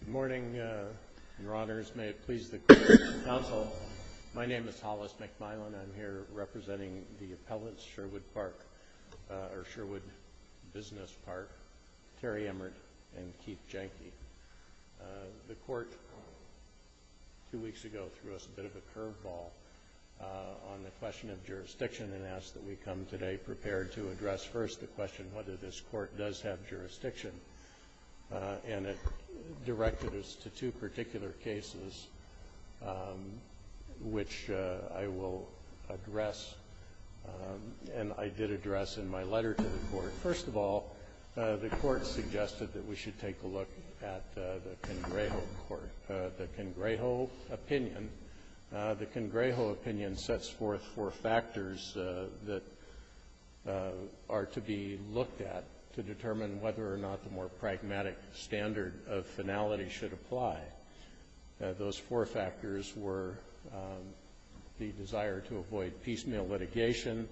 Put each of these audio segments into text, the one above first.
Good morning, Your Honors. May it please the Court and the Counsel, my name is Hollis McMillen. I'm here representing the appellants, Sherwood Park, or Sherwood Business Park, Terry Emmert, and Keith Janke. The Court, two weeks ago, threw us a bit of a curveball on the question of jurisdiction and asked that we come today prepared to address first the question whether this Court does have jurisdiction. And it directed us to two particular cases, which I will address, and I did address in my letter to the Court. First of all, the Court suggested that we should take a look at the Congrejo Court, the Congrejo opinion. The Congrejo opinion sets forth four factors that are to be looked at to determine whether or not the more pragmatic standard of finality should apply. Those four factors were the desire to avoid piecemeal litigation,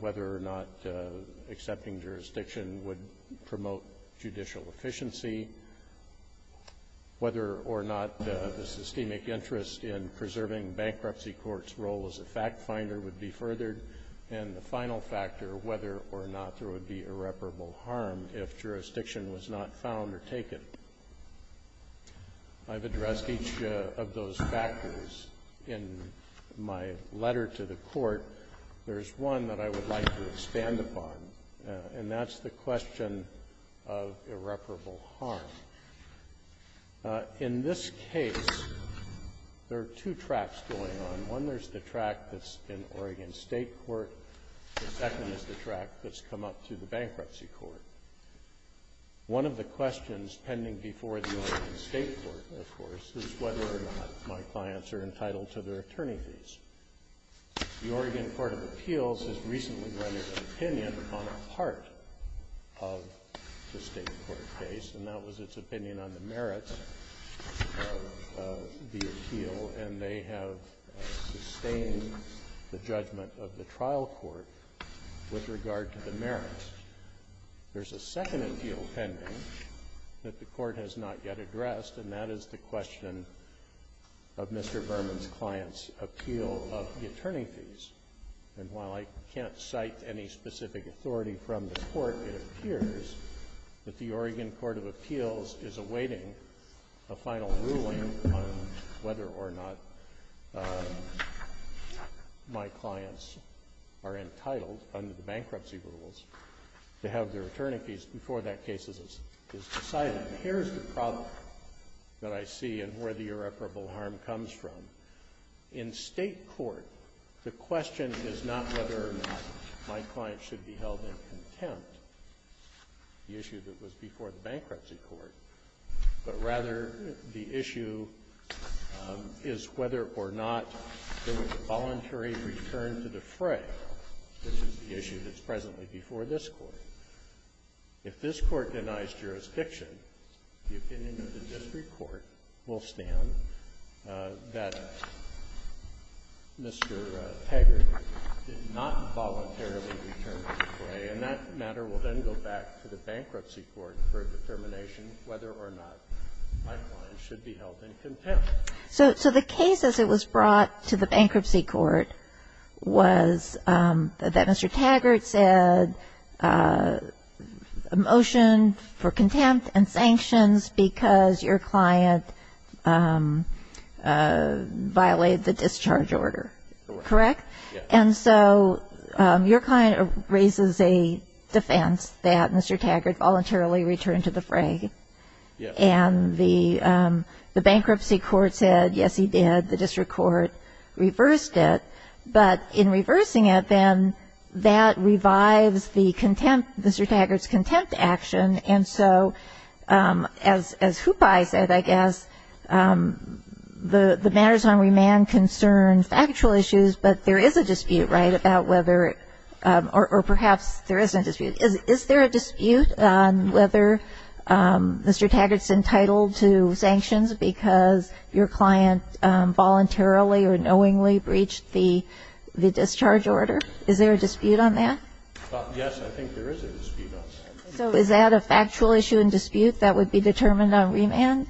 whether or not accepting jurisdiction would promote judicial efficiency, whether or not the systemic interest in preserving bankruptcy courts' role as a fact finder would be furthered, and the final factor, whether or not there would be irreparable harm if jurisdiction was not found or taken. I've addressed each of those factors in my letter to the Court. There's one that I would like to expand upon, and that's the question of irreparable harm. In this case, there are two tracks going on. One, there's the track that's in Oregon State court. The second is the track that's come up through the Bankruptcy Court. One of the questions pending before the Oregon State court, of course, is whether or not my clients are entitled to their attorney fees. The Oregon Court of Appeals has recently rendered an opinion on a part of the State court case, and that was its opinion on the merits of the appeal, and they have sustained the judgment of the trial court with regard to the merits. There's a second appeal pending that the Court has not yet addressed, and that is the question of Mr. Berman's client's appeal of the attorney fees. And while I can't cite any specific authority from the Court, it appears that the Oregon Court of Appeals is awaiting a final ruling on whether or not my clients are entitled under the bankruptcy rules to have their attorney fees before that case is decided. And here's the problem that I see and where the irreparable harm comes from. In State court, the question is not whether or not my client should be held in contempt, the issue that was before the Bankruptcy Court, but rather the issue is whether or not there was a voluntary return to the fray. This is the issue that's presently before this Court. If this Court denies jurisdiction, the opinion of the district court will stand that Mr. Taggart did not voluntarily return to the fray, and that matter will then go back to the Bankruptcy Court for a determination whether or not my client should be held in contempt. So the case as it was brought to the Bankruptcy Court was that Mr. Taggart said a motion for contempt and sanctions because your client violated the discharge order. Correct? Yes. And so your client raises a defense that Mr. Taggart voluntarily returned to the fray. Yes. And the Bankruptcy Court said, yes, he did. The district court reversed it. But in reversing it, then, that revives the contempt, Mr. Taggart's contempt action. And so as Hupai said, I guess, the matters on remand concern factual issues, but there is a dispute, right, about whether or perhaps there isn't a dispute. Is there a dispute on whether Mr. Taggart's entitled to sanctions because your client voluntarily or knowingly breached the discharge order? Is there a dispute on that? Yes, I think there is a dispute on that. So is that a factual issue and dispute that would be determined on remand?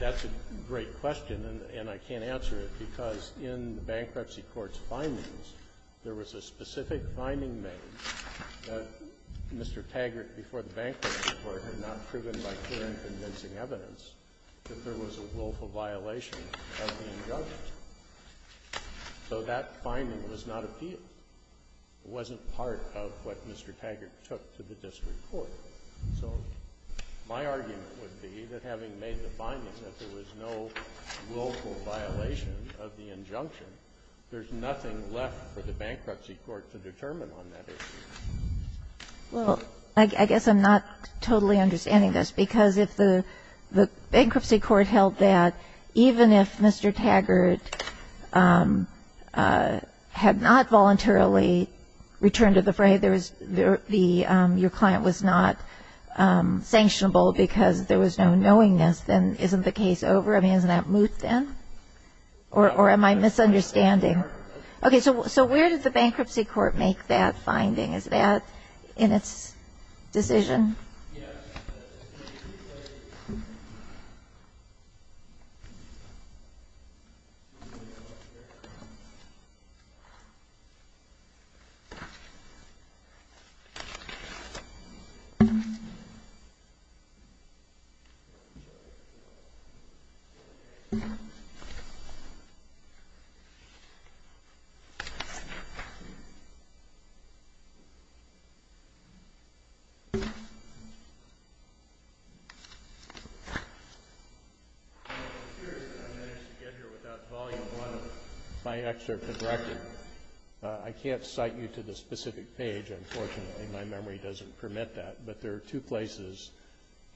That's a great question, and I can't answer it, because in the Bankruptcy Court's findings, there was a specific finding made that Mr. Taggart, before the Bankruptcy Court, had not proven by clear and convincing evidence that there was a willful violation of the injunction. So that finding was not appealed. It wasn't part of what Mr. Taggart took to the district court. So my argument would be that having made the findings that there was no willful violation of the injunction, there's nothing left for the Bankruptcy Court to determine on that issue. Well, I guess I'm not totally understanding this, because if the Bankruptcy Court held that even if Mr. Taggart had not voluntarily returned to the fray, there was the – your client was not sanctionable because there was no knowingness, then isn't the case over? I mean, isn't that moot, then? Or am I misunderstanding? Okay. So where did the Bankruptcy Court make that finding? Is that in its decision? Yes. I can't cite you to the specific page, unfortunately. My memory doesn't permit that. But there are two places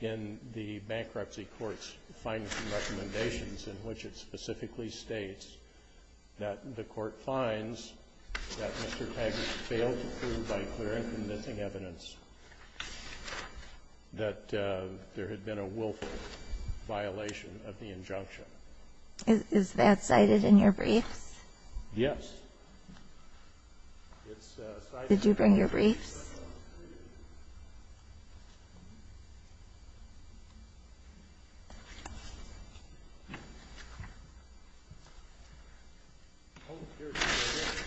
in the Bankruptcy Court's findings and recommendations in which it specifically states that the court finds that Mr. Taggart failed to prove by clear and convincing evidence that there had been a willful violation of the injunction. Is that cited in your briefs? Yes. Did you bring your briefs? Yes.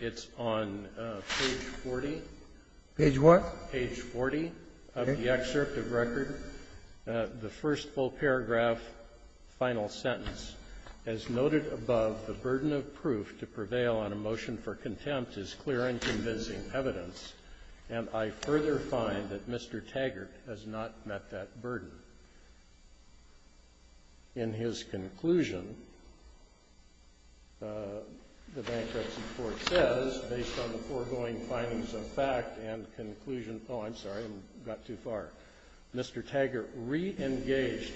It's on page 40. Page what? Page 40 of the excerpt of record. The first full paragraph, final sentence. As noted above, the burden of proof to prevail on a motion for contempt is clear and convincing evidence, and I further find that Mr. Taggart has not met that burden. In his conclusion, the Bankruptcy Court says, based on the foregoing findings of fact and Mr. Taggart re-engaged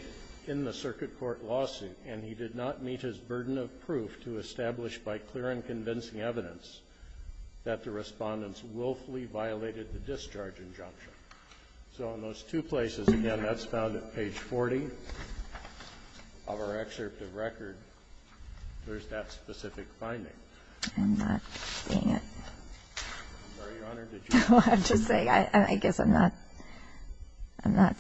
in the circuit court lawsuit, and he did not meet his burden of proof to establish by clear and convincing evidence that the Respondents willfully violated the discharge injunction. So in those two places, again, that's found at page 40 of our excerpt of record, there's that specific finding. I'm not seeing it. I'm sorry, Your Honor. I'm just saying, I guess I'm not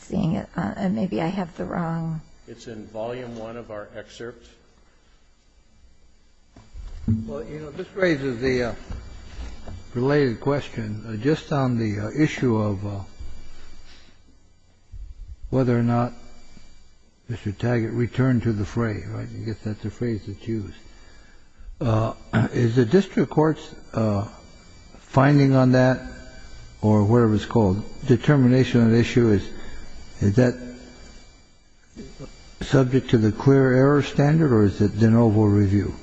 seeing it. Maybe I have the wrong. It's in volume one of our excerpt. Well, you know, this raises the related question. Just on the issue of whether or not Mr. Taggart returned to the fray, right? I guess that's a phrase that's used. Is the district court's finding on that or whatever it's called, determination on the issue, is that subject to the clear error standard or is it de novo review?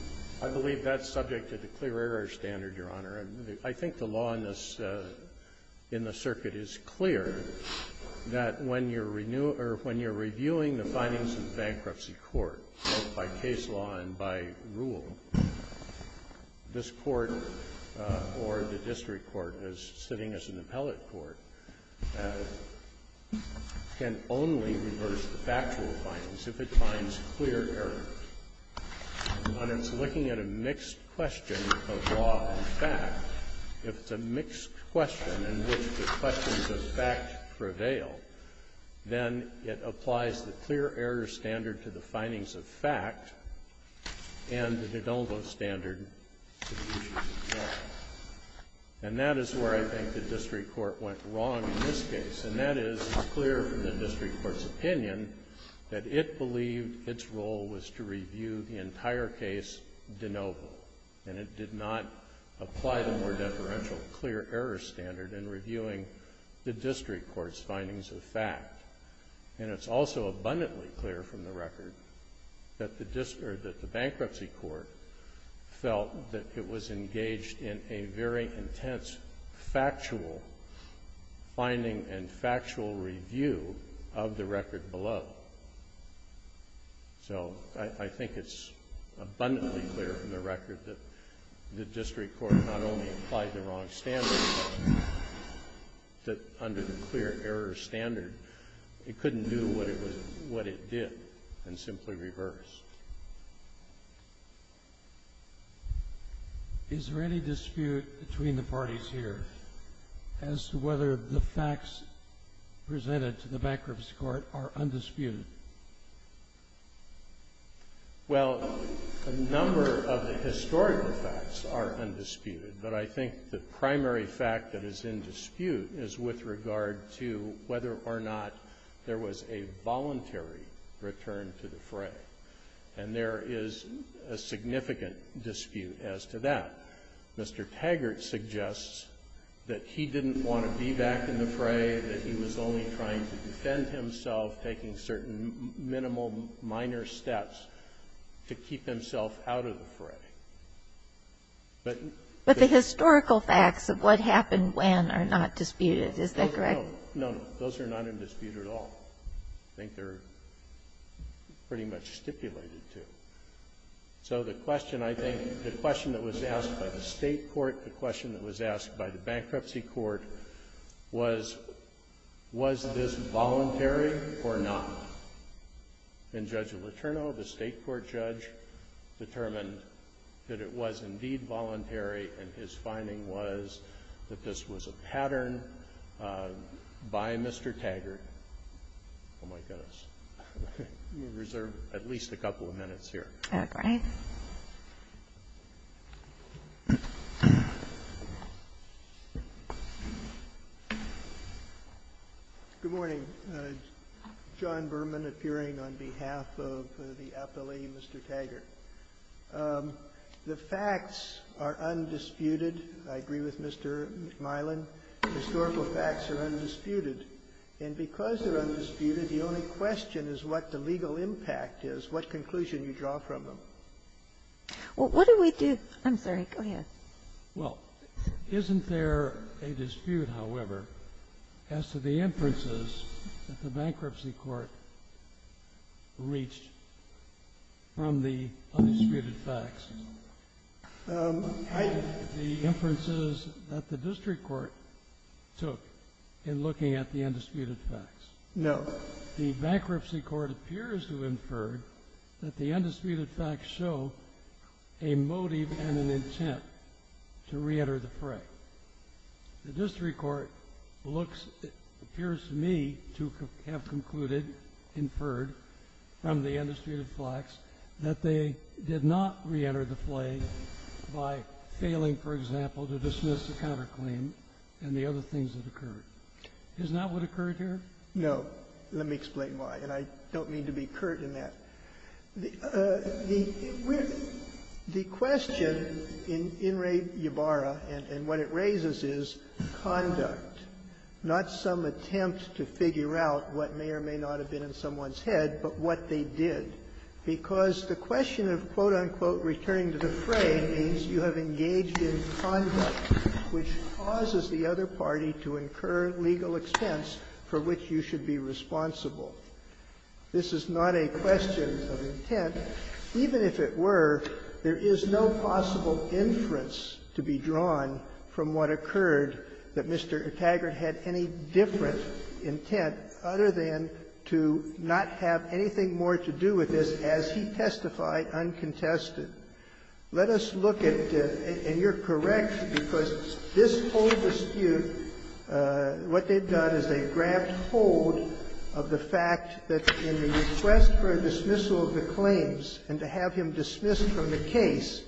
I believe that's subject to the clear error standard, Your Honor. I think the law in the circuit is clear that when you're reviewing the findings in bankruptcy court, both by case law and by rule, this court or the district court as sitting as an appellate court can only reverse the factual findings if it finds clear errors. When it's looking at a mixed question of law and fact, if it's a mixed question in which the questions of fact prevail, then it applies the clear error standard to the findings of fact and the de novo standard to the issues of fact. And that is where I think the district court went wrong in this case, and that is clear from the district court's opinion that it believed its role was to review the entire case de novo, and it did not apply the more deferential clear error standard in reviewing the district court's findings of fact. And it's also abundantly clear from the record that the bankruptcy court felt that it was engaged in a very intense factual finding and factual review of the record below. So I think it's abundantly clear from the record that the district court not only applied the wrong standard, but under the clear error standard, it couldn't do what it did and simply reversed. Is there any dispute between the parties here as to whether the facts presented to the bankruptcy court are undisputed? Well, a number of the historical facts are undisputed, but I think the primary fact that is in dispute is with regard to whether or not there was a voluntary return to the fray. And there is a significant dispute as to that. Mr. Taggart suggests that he didn't want to be back in the fray, that he was only trying to defend himself, taking certain minimal, minor steps to keep himself out of the fray. But the historical facts of what happened when are not disputed. Is that correct? No, no. Those are not in dispute at all. I think they're pretty much stipulated, too. So the question, I think, the question that was asked by the state court, the question that was asked by the bankruptcy court was, was this voluntary or not? And Judge Letourneau, the state court judge, determined that it was indeed voluntary and his finding was that this was a pattern by Mr. Taggart. Oh, my goodness. We reserve at least a couple of minutes here. Okay. Good morning. John Berman appearing on behalf of the appellee, Mr. Taggart. The facts are undisputed. I agree with Mr. McMillan. The historical facts are undisputed. And because they're undisputed, the only question is what the legal impact is, what conclusion you draw from them. Well, what do we do? I'm sorry. Go ahead. Well, isn't there a dispute, however, as to the inferences that the bankruptcy court reached from the undisputed facts? The inferences that the district court took in looking at the undisputed facts. No. The bankruptcy court appears to have inferred that the undisputed facts show a motive and an intent to reenter the fray. The district court appears to me to have concluded, inferred from the undisputed facts, that they did not reenter the fray by failing, for example, to dismiss the counterclaim and the other things that occurred. Is that what occurred here? No. Let me explain why. And I don't mean to be curt in that. The question in Ray Ybarra and what it raises is conduct, not some attempt to figure out what may or may not have been in someone's head, but what they did. Because the question of, quote, unquote, returning to the fray means you have engaged in conduct which causes the other party to incur legal expense for which you should be responsible. This is not a question of intent. Even if it were, there is no possible inference to be drawn from what occurred, that Mr. Taggart had any different intent other than to not have anything more to do with this as he testified uncontested. Let us look at the — and you're correct, because this whole dispute, what they've done is they've grabbed hold of the fact that in the request for a dismissal of the claims and to have him dismissed from the case,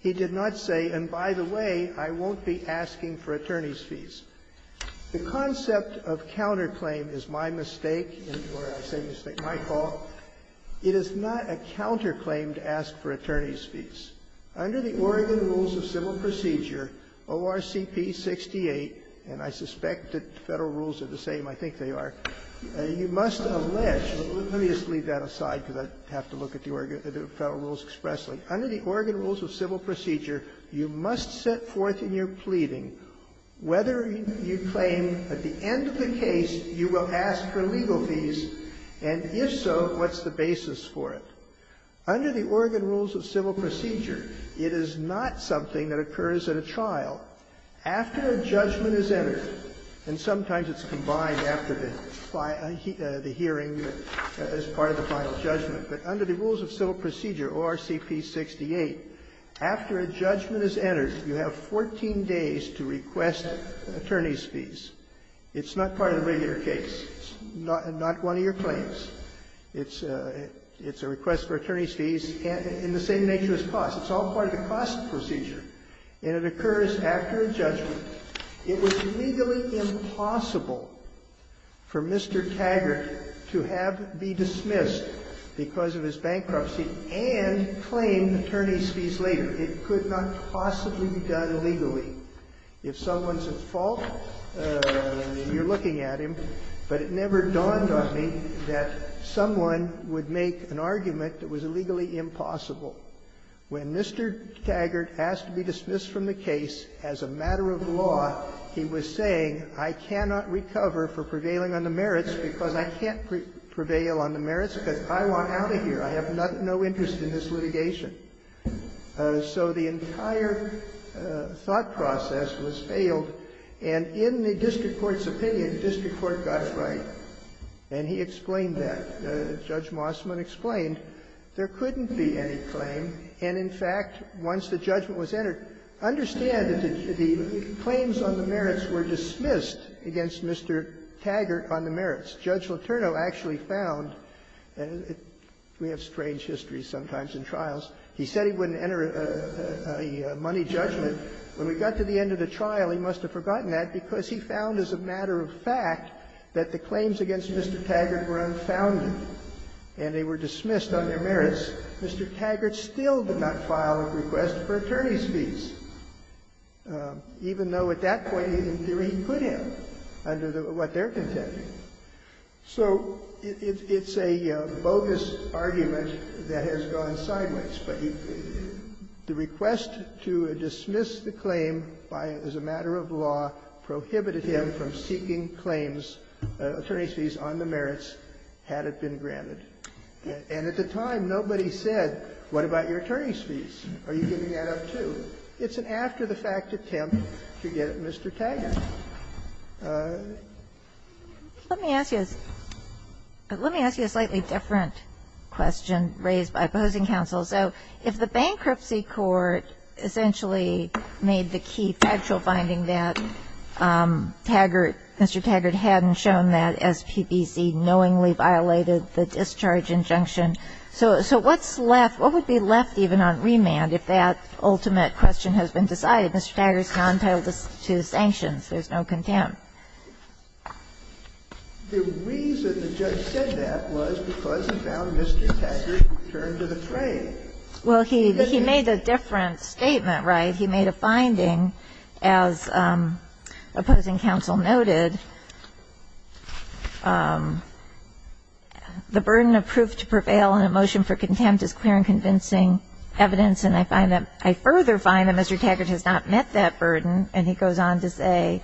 he did not say, and by the way, I won't be asking for attorney's fees. The concept of counterclaim is my mistake, or I say mistake, my fault. It is not a counterclaim to ask for attorney's fees. Under the Oregon Rules of Civil Procedure, ORCP 68, and I suspect that Federal Rules are the same, I think they are, you must allege — let me just leave that aside, because I have to look at the Federal Rules expressly. Under the Oregon Rules of Civil Procedure, you must set forth in your pleading whether you claim at the end of the case you will ask for legal fees, and if so, what's the basis for it. Under the Oregon Rules of Civil Procedure, it is not something that occurs at a trial. After a judgment is entered, and sometimes it's combined after the hearing as part of the final judgment, but under the Rules of Civil Procedure, ORCP 68, after a judgment is entered, you have 14 days to request attorney's fees. It's not part of the regular case. It's not one of your claims. It's a request for attorney's fees, and in the same nature as costs. It's all part of the cost procedure, and it occurs after a judgment. It was legally impossible for Mr. Taggart to have be dismissed because of his bankruptcy and claim attorney's fees later. It could not possibly be done illegally. If someone's at fault, you're looking at him, but it never dawned on me that someone would make an argument that was illegally impossible. When Mr. Taggart asked to be dismissed from the case as a matter of law, he was saying, I cannot recover for prevailing on the merits because I can't prevail on the merits because I want out of here. I have no interest in this litigation. So the entire thought process was failed, and in the district court's opinion, the district court got it right, and he explained that. Judge Mossman explained there couldn't be any claim, and in fact, once the judgment was entered, understand that the claims on the merits were dismissed against Mr. Taggart on the merits. Judge Letourneau actually found that we have strange histories sometimes in trials. He said he wouldn't enter a money judgment. When we got to the end of the trial, he must have forgotten that because he found as a matter of fact that the claims against Mr. Taggart were unfounded and they were dismissed on their merits. Mr. Taggart still did not file a request for attorney's fees, even though at that point, in theory, he could have under what they're contending. So it's a bogus argument that has gone sideways, but the request to dismiss the claim by as a matter of law prohibited him from seeking claims, attorney's fees on the merits, had it been granted. And at the time, nobody said, what about your attorney's fees? Are you giving that up, too? It's an after-the-fact attempt to get Mr. Taggart. Let me ask you a slightly different question raised by opposing counsel. So if the bankruptcy court essentially made the key factual finding that Mr. Taggart hadn't shown that SPBC knowingly violated the discharge injunction, so what's left, what would be left even on remand if that ultimate question has been decided? Mr. Taggart is now entitled to sanctions. There's no contempt. The reason the judge said that was because he found Mr. Taggart returned to the claim. Well, he made a different statement, right? He made a finding, as opposing counsel noted, the burden of proof to prevail in a motion for contempt is clear and convincing evidence, and I find that Mr. Taggart has not met that burden, and he goes on to say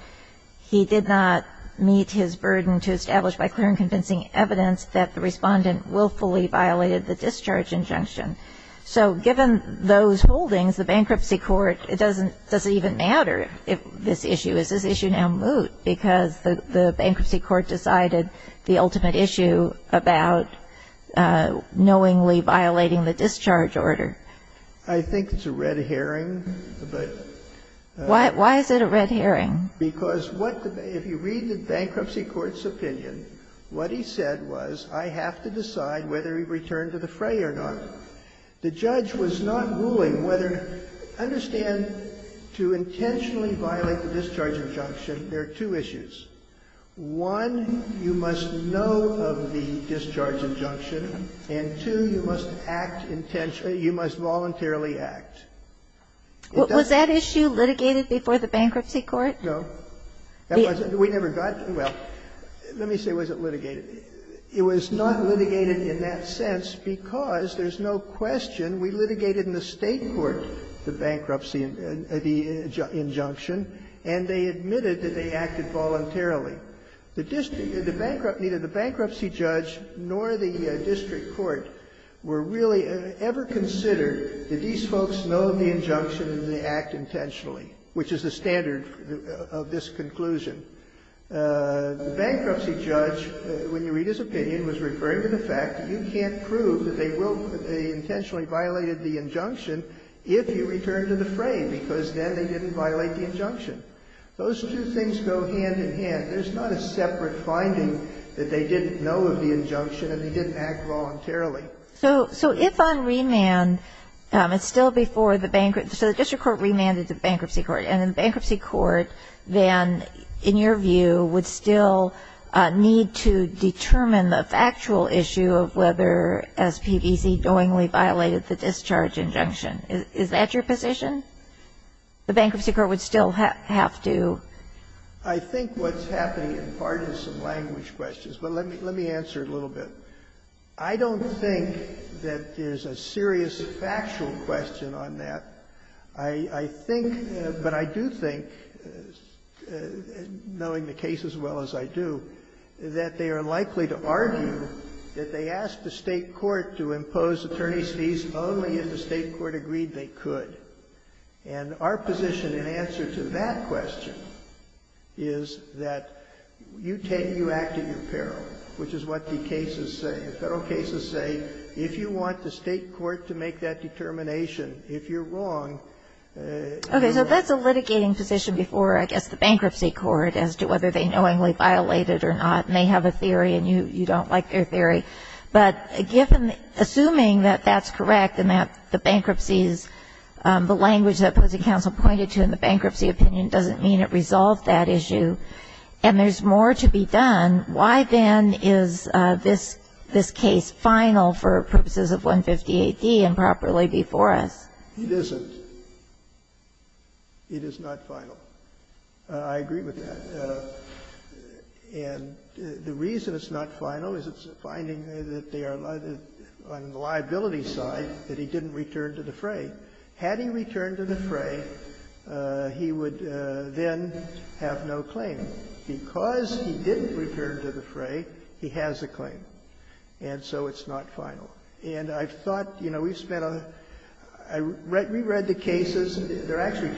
he did not meet his burden to establish by clear and convincing evidence that the Respondent willfully violated the discharge injunction. So given those holdings, the bankruptcy court, it doesn't even matter if this issue is this issue now moot, because the bankruptcy court decided the ultimate issue about knowingly violating the discharge order. I think it's a red herring, but why is it a red herring? Because if you read the bankruptcy court's opinion, what he said was, I have to decide whether he returned to the fray or not. The judge was not ruling whether to understand to intentionally violate the discharge injunction, there are two issues. One, you must know of the discharge injunction, and, two, you must act intentionally or you must voluntarily act. It doesn't matter. Kagan. Was that issue litigated before the bankruptcy court? No. We never got to it. Well, let me say it wasn't litigated. It was not litigated in that sense, because there's no question we litigated in the State court the bankruptcy injunction, and they admitted that they acted voluntarily. The district neither the bankruptcy judge nor the district court were really ever voluntarily. Now, let's consider, did these folks know of the injunction and did they act intentionally, which is the standard of this conclusion? The bankruptcy judge, when you read his opinion, was referring to the fact that you can't prove that they intentionally violated the injunction if you return to the fray, because then they didn't violate the injunction. Those two things go hand in hand. There's not a separate finding that they didn't know of the injunction and they didn't act voluntarily. So, if on remand, it's still before the bankruptcy, so the district court remanded the bankruptcy court, and the bankruptcy court then, in your view, would still need to determine the factual issue of whether SPBC knowingly violated the discharge injunction. Is that your position? The bankruptcy court would still have to? I think what's happening in part is some language questions, but let me answer a little bit. I don't think that there's a serious factual question on that. I think, but I do think, knowing the case as well as I do, that they are likely to argue that they asked the State court to impose attorney's fees only if the State court agreed they could. And our position in answer to that question is that you take, you act at your peril, which is what the cases say. The Federal cases say, if you want the State court to make that determination, if you're wrong, you act at your peril. Okay. So that's a litigating position before, I guess, the bankruptcy court as to whether they knowingly violated or not, and they have a theory and you don't like their theory. But given, assuming that that's correct and that the bankruptcies, the language that opposing counsel pointed to in the bankruptcy opinion doesn't mean it resolved that issue, and there's more to be done, why then is this case final for purposes of 150AD and properly before us? It isn't. It is not final. I agree with that. And the reason it's not final is it's a finding that they are on the liability side that he didn't return to the fray. Had he returned to the fray, he would then have no claim. Because he didn't return to the fray, he has a claim. And so it's not final. And I thought, you know, we spent a – we read the cases. There are actually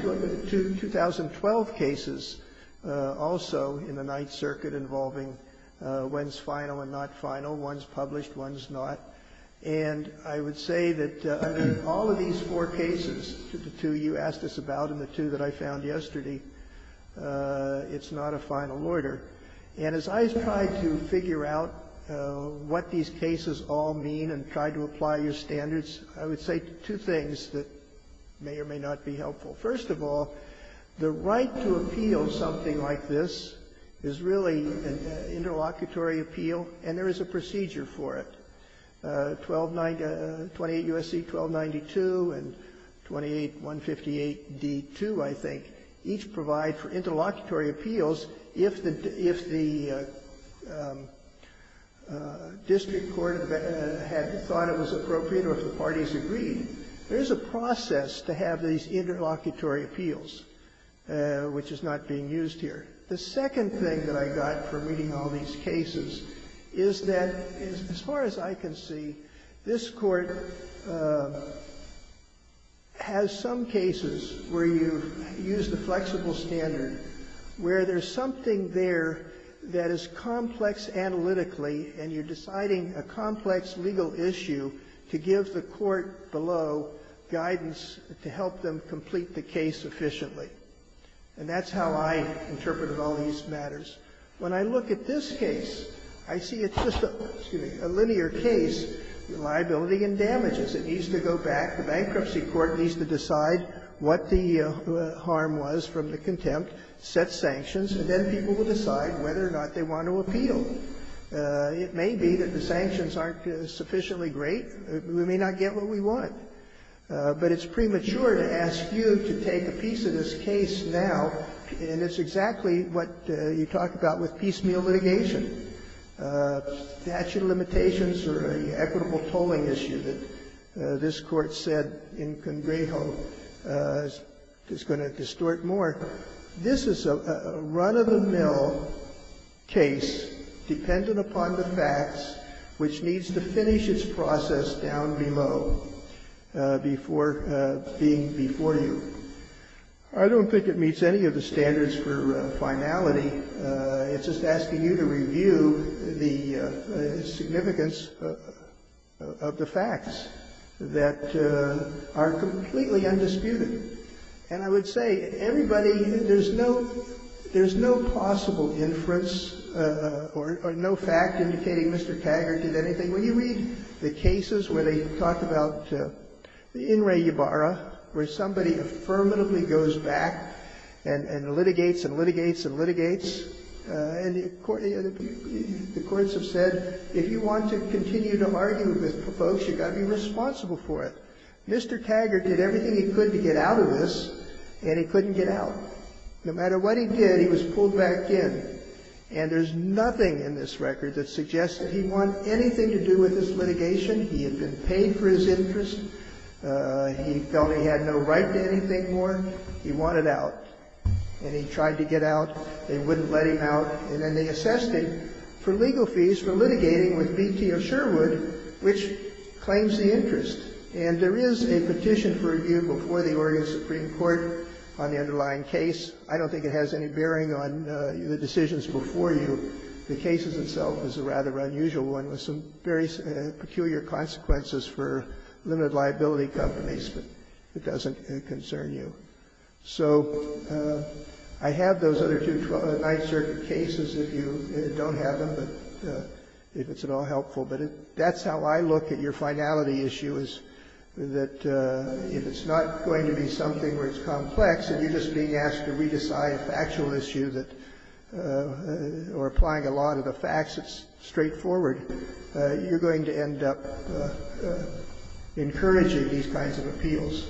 two 2012 cases also in the Ninth Circuit involving when's final and not final, one's published, one's not. And I would say that under all of these four cases, the two you asked us about and the two that I found yesterday, it's not a final order. And as I try to figure out what these cases all mean and try to apply your standards, I would say two things that may or may not be helpful. First of all, the right to appeal something like this is really an interlocutory appeal, and there is a procedure for it. 1290 – 28 U.S.C. 1292 and 28158D2, I think, each provide for interlocutory appeals if the – if the district court had thought it was appropriate or if the parties agreed. There is a process to have these interlocutory appeals, which is not being used here. The second thing that I got from reading all these cases is that, as far as I can see, this Court has some cases where you use the flexible standard, where there's something there that is complex analytically, and you're deciding a complex legal issue to give the court below guidance to help them complete the case efficiently. And that's how I interpret all these matters. When I look at this case, I see it's just a linear case, liability and damages. It needs to go back. The bankruptcy court needs to decide what the harm was from the contempt, set sanctions, and then people will decide whether or not they want to appeal. It may be that the sanctions aren't sufficiently great. We may not get what we want. But it's premature to ask you to take a piece of this case now, and it's exactly what you talked about with piecemeal litigation. Statute of limitations or an equitable tolling issue that this Court said in Congrejo is going to distort more. This is a run-of-the-mill case dependent upon the facts, which needs to finish its process down below before being before you. I don't think it meets any of the standards for finality. It's just asking you to review the significance of the facts that are completely undisputed. And I would say, everybody, there's no possible inference or no fact indicating Mr. Taggart did anything. When you read the cases where they talk about the in rei barra, where somebody affirmatively goes back and litigates and litigates and litigates, and the courts have said, if you want to continue to argue with folks, you've got to be responsible for it. Mr. Taggart did everything he could to get out of this, and he couldn't get out. No matter what he did, he was pulled back in. And there's nothing in this record that suggests that he won anything to do with this litigation. He had been paid for his interest. He felt he had no right to anything more. He wanted out. And he tried to get out. They wouldn't let him out. And then they assessed him for legal fees for litigating with B.T. of Sherwood, which claims the interest. And there is a petition for review before the Oregon Supreme Court on the underlying case. I don't think it has any bearing on the decisions before you. The case itself is a rather unusual one with some very peculiar consequences for limited liability companies, but it doesn't concern you. So I have those other two Ninth Circuit cases. If you don't have them, if it's at all helpful. But that's how I look at your finality issue, is that if it's not going to be something where it's complex and you're just being asked to re-decide a factual issue or applying a lot of the facts, it's straightforward, you're going to end up encouraging these kinds of appeals.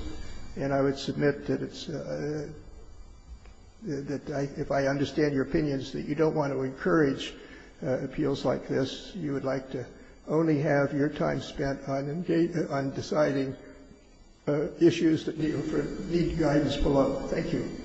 And I would submit that it's – that if I understand your opinions, that you don't want to encourage appeals like this. You would like to only have your time spent on deciding issues that need guidance below. Thank you. Thank you. Roberts.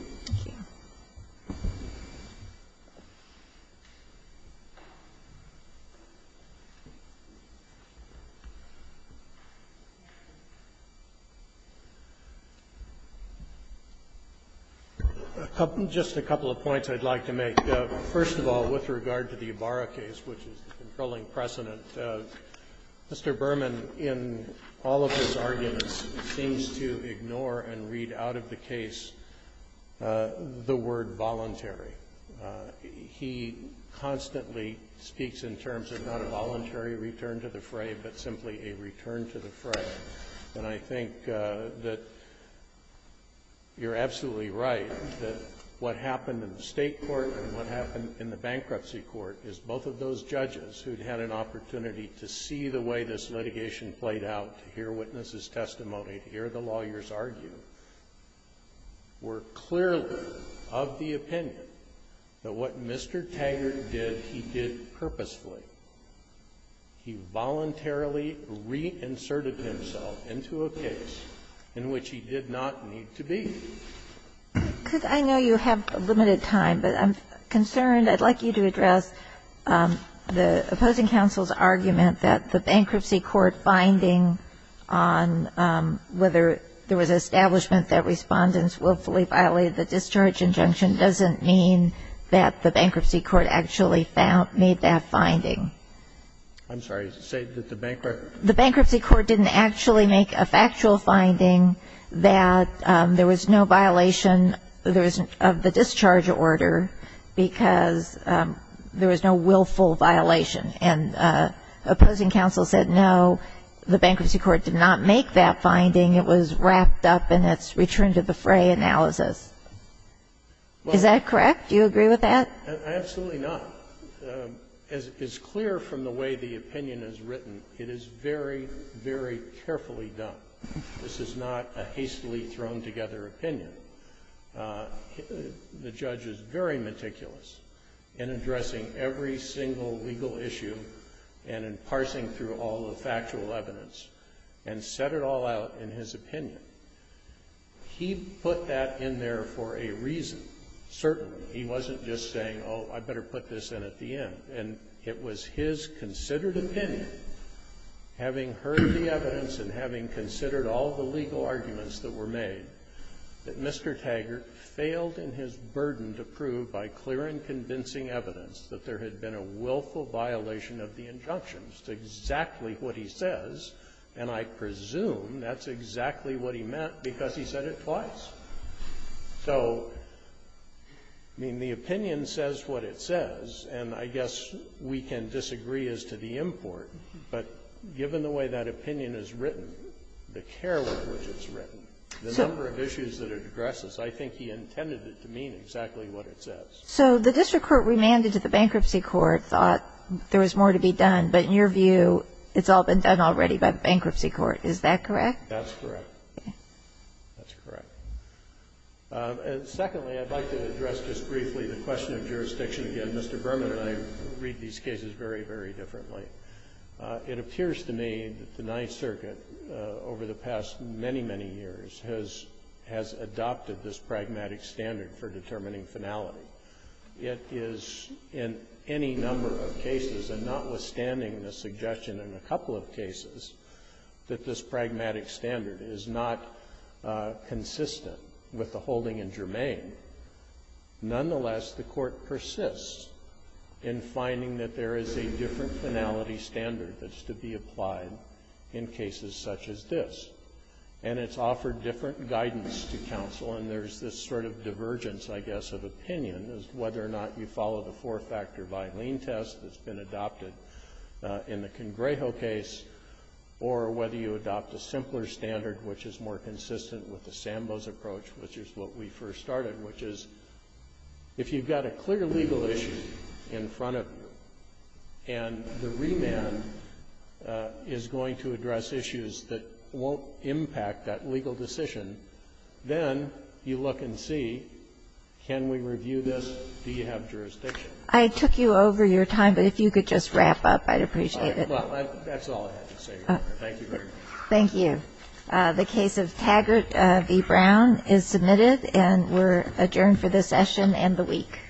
Just a couple of points I'd like to make. First of all, with regard to the Ibarra case, which is the controlling precedent, Mr. Berman, in all of his arguments, seems to ignore and read out of the case the word voluntary. He constantly speaks in terms of not a voluntary return to the fray, but simply a return to the fray. And I think that you're absolutely right that what happened in the State court and what happened in the bankruptcy court is both of those judges who had an opportunity to see the way this litigation played out, to hear witnesses' testimony, to hear the lawyers argue, were clearly of the opinion that what Mr. Taggart did, he did purposefully. He voluntarily reinserted himself into a case in which he did not need to be. Because I know you have limited time, but I'm concerned. I'd like you to address the opposing counsel's argument that the bankruptcy court finding on whether there was an establishment that Respondents willfully violated the discharge injunction doesn't mean that the bankruptcy court actually made that finding. I'm sorry. Say that the bankruptcy court didn't actually make a factual finding that there was no violation of the discharge order because there was no willful violation, and opposing counsel said, no, the bankruptcy court did not make that finding, it was wrapped up in its return to the fray analysis. Is that correct? Do you agree with that? Absolutely not. As is clear from the way the opinion is written, it is very, very carefully done. This is not a hastily thrown together opinion. The judge is very meticulous in addressing every single legal issue and in parsing through all the factual evidence and set it all out in his opinion. He put that in there for a reason, certainly. He wasn't just saying, oh, I better put this in at the end. And it was his considered opinion, having heard the evidence and having considered all the legal arguments that were made, that Mr. Taggart failed in his burden to prove by clear and convincing evidence that there had been a willful violation of the injunctions to exactly what he says. And I presume that's exactly what he meant because he said it twice. So, I mean, the opinion says what it says. And I guess we can disagree as to the import. But given the way that opinion is written, the care with which it's written, the number of issues that it addresses, I think he intended it to mean exactly what it says. So the district court remanded to the bankruptcy court thought there was more to be done, but in your view, it's all been done already by the bankruptcy court, is that correct? That's correct. That's correct. And secondly, I'd like to address just briefly the question of jurisdiction again. Mr. Berman and I read these cases very, very differently. It appears to me that the Ninth Circuit, over the past many, many years, has adopted this pragmatic standard for determining finality. It is in any number of cases, and notwithstanding the suggestion in a couple of cases, that this pragmatic standard is not consistent with the holding in Germain. Nonetheless, the court persists in finding that there is a different finality standard that's to be applied in cases such as this. And it's offered different guidance to counsel. And there's this sort of divergence, I guess, of opinion as to whether or not you follow the four-factor biling test that's been adopted in the Congrejo case, or whether you adopt a simpler standard which is more consistent with the Sambos approach, which is what we first started, which is if you've got a clear legal issue in front of you, and the remand is going to address issues that won't impact that legal decision, then you look and see, can we review this, do you have jurisdiction? I took you over your time, but if you could just wrap up, I'd appreciate it. Well, that's all I had to say. Thank you very much. Thank you. The case of Taggart v. Brown is submitted, and we're adjourned for this session and the week.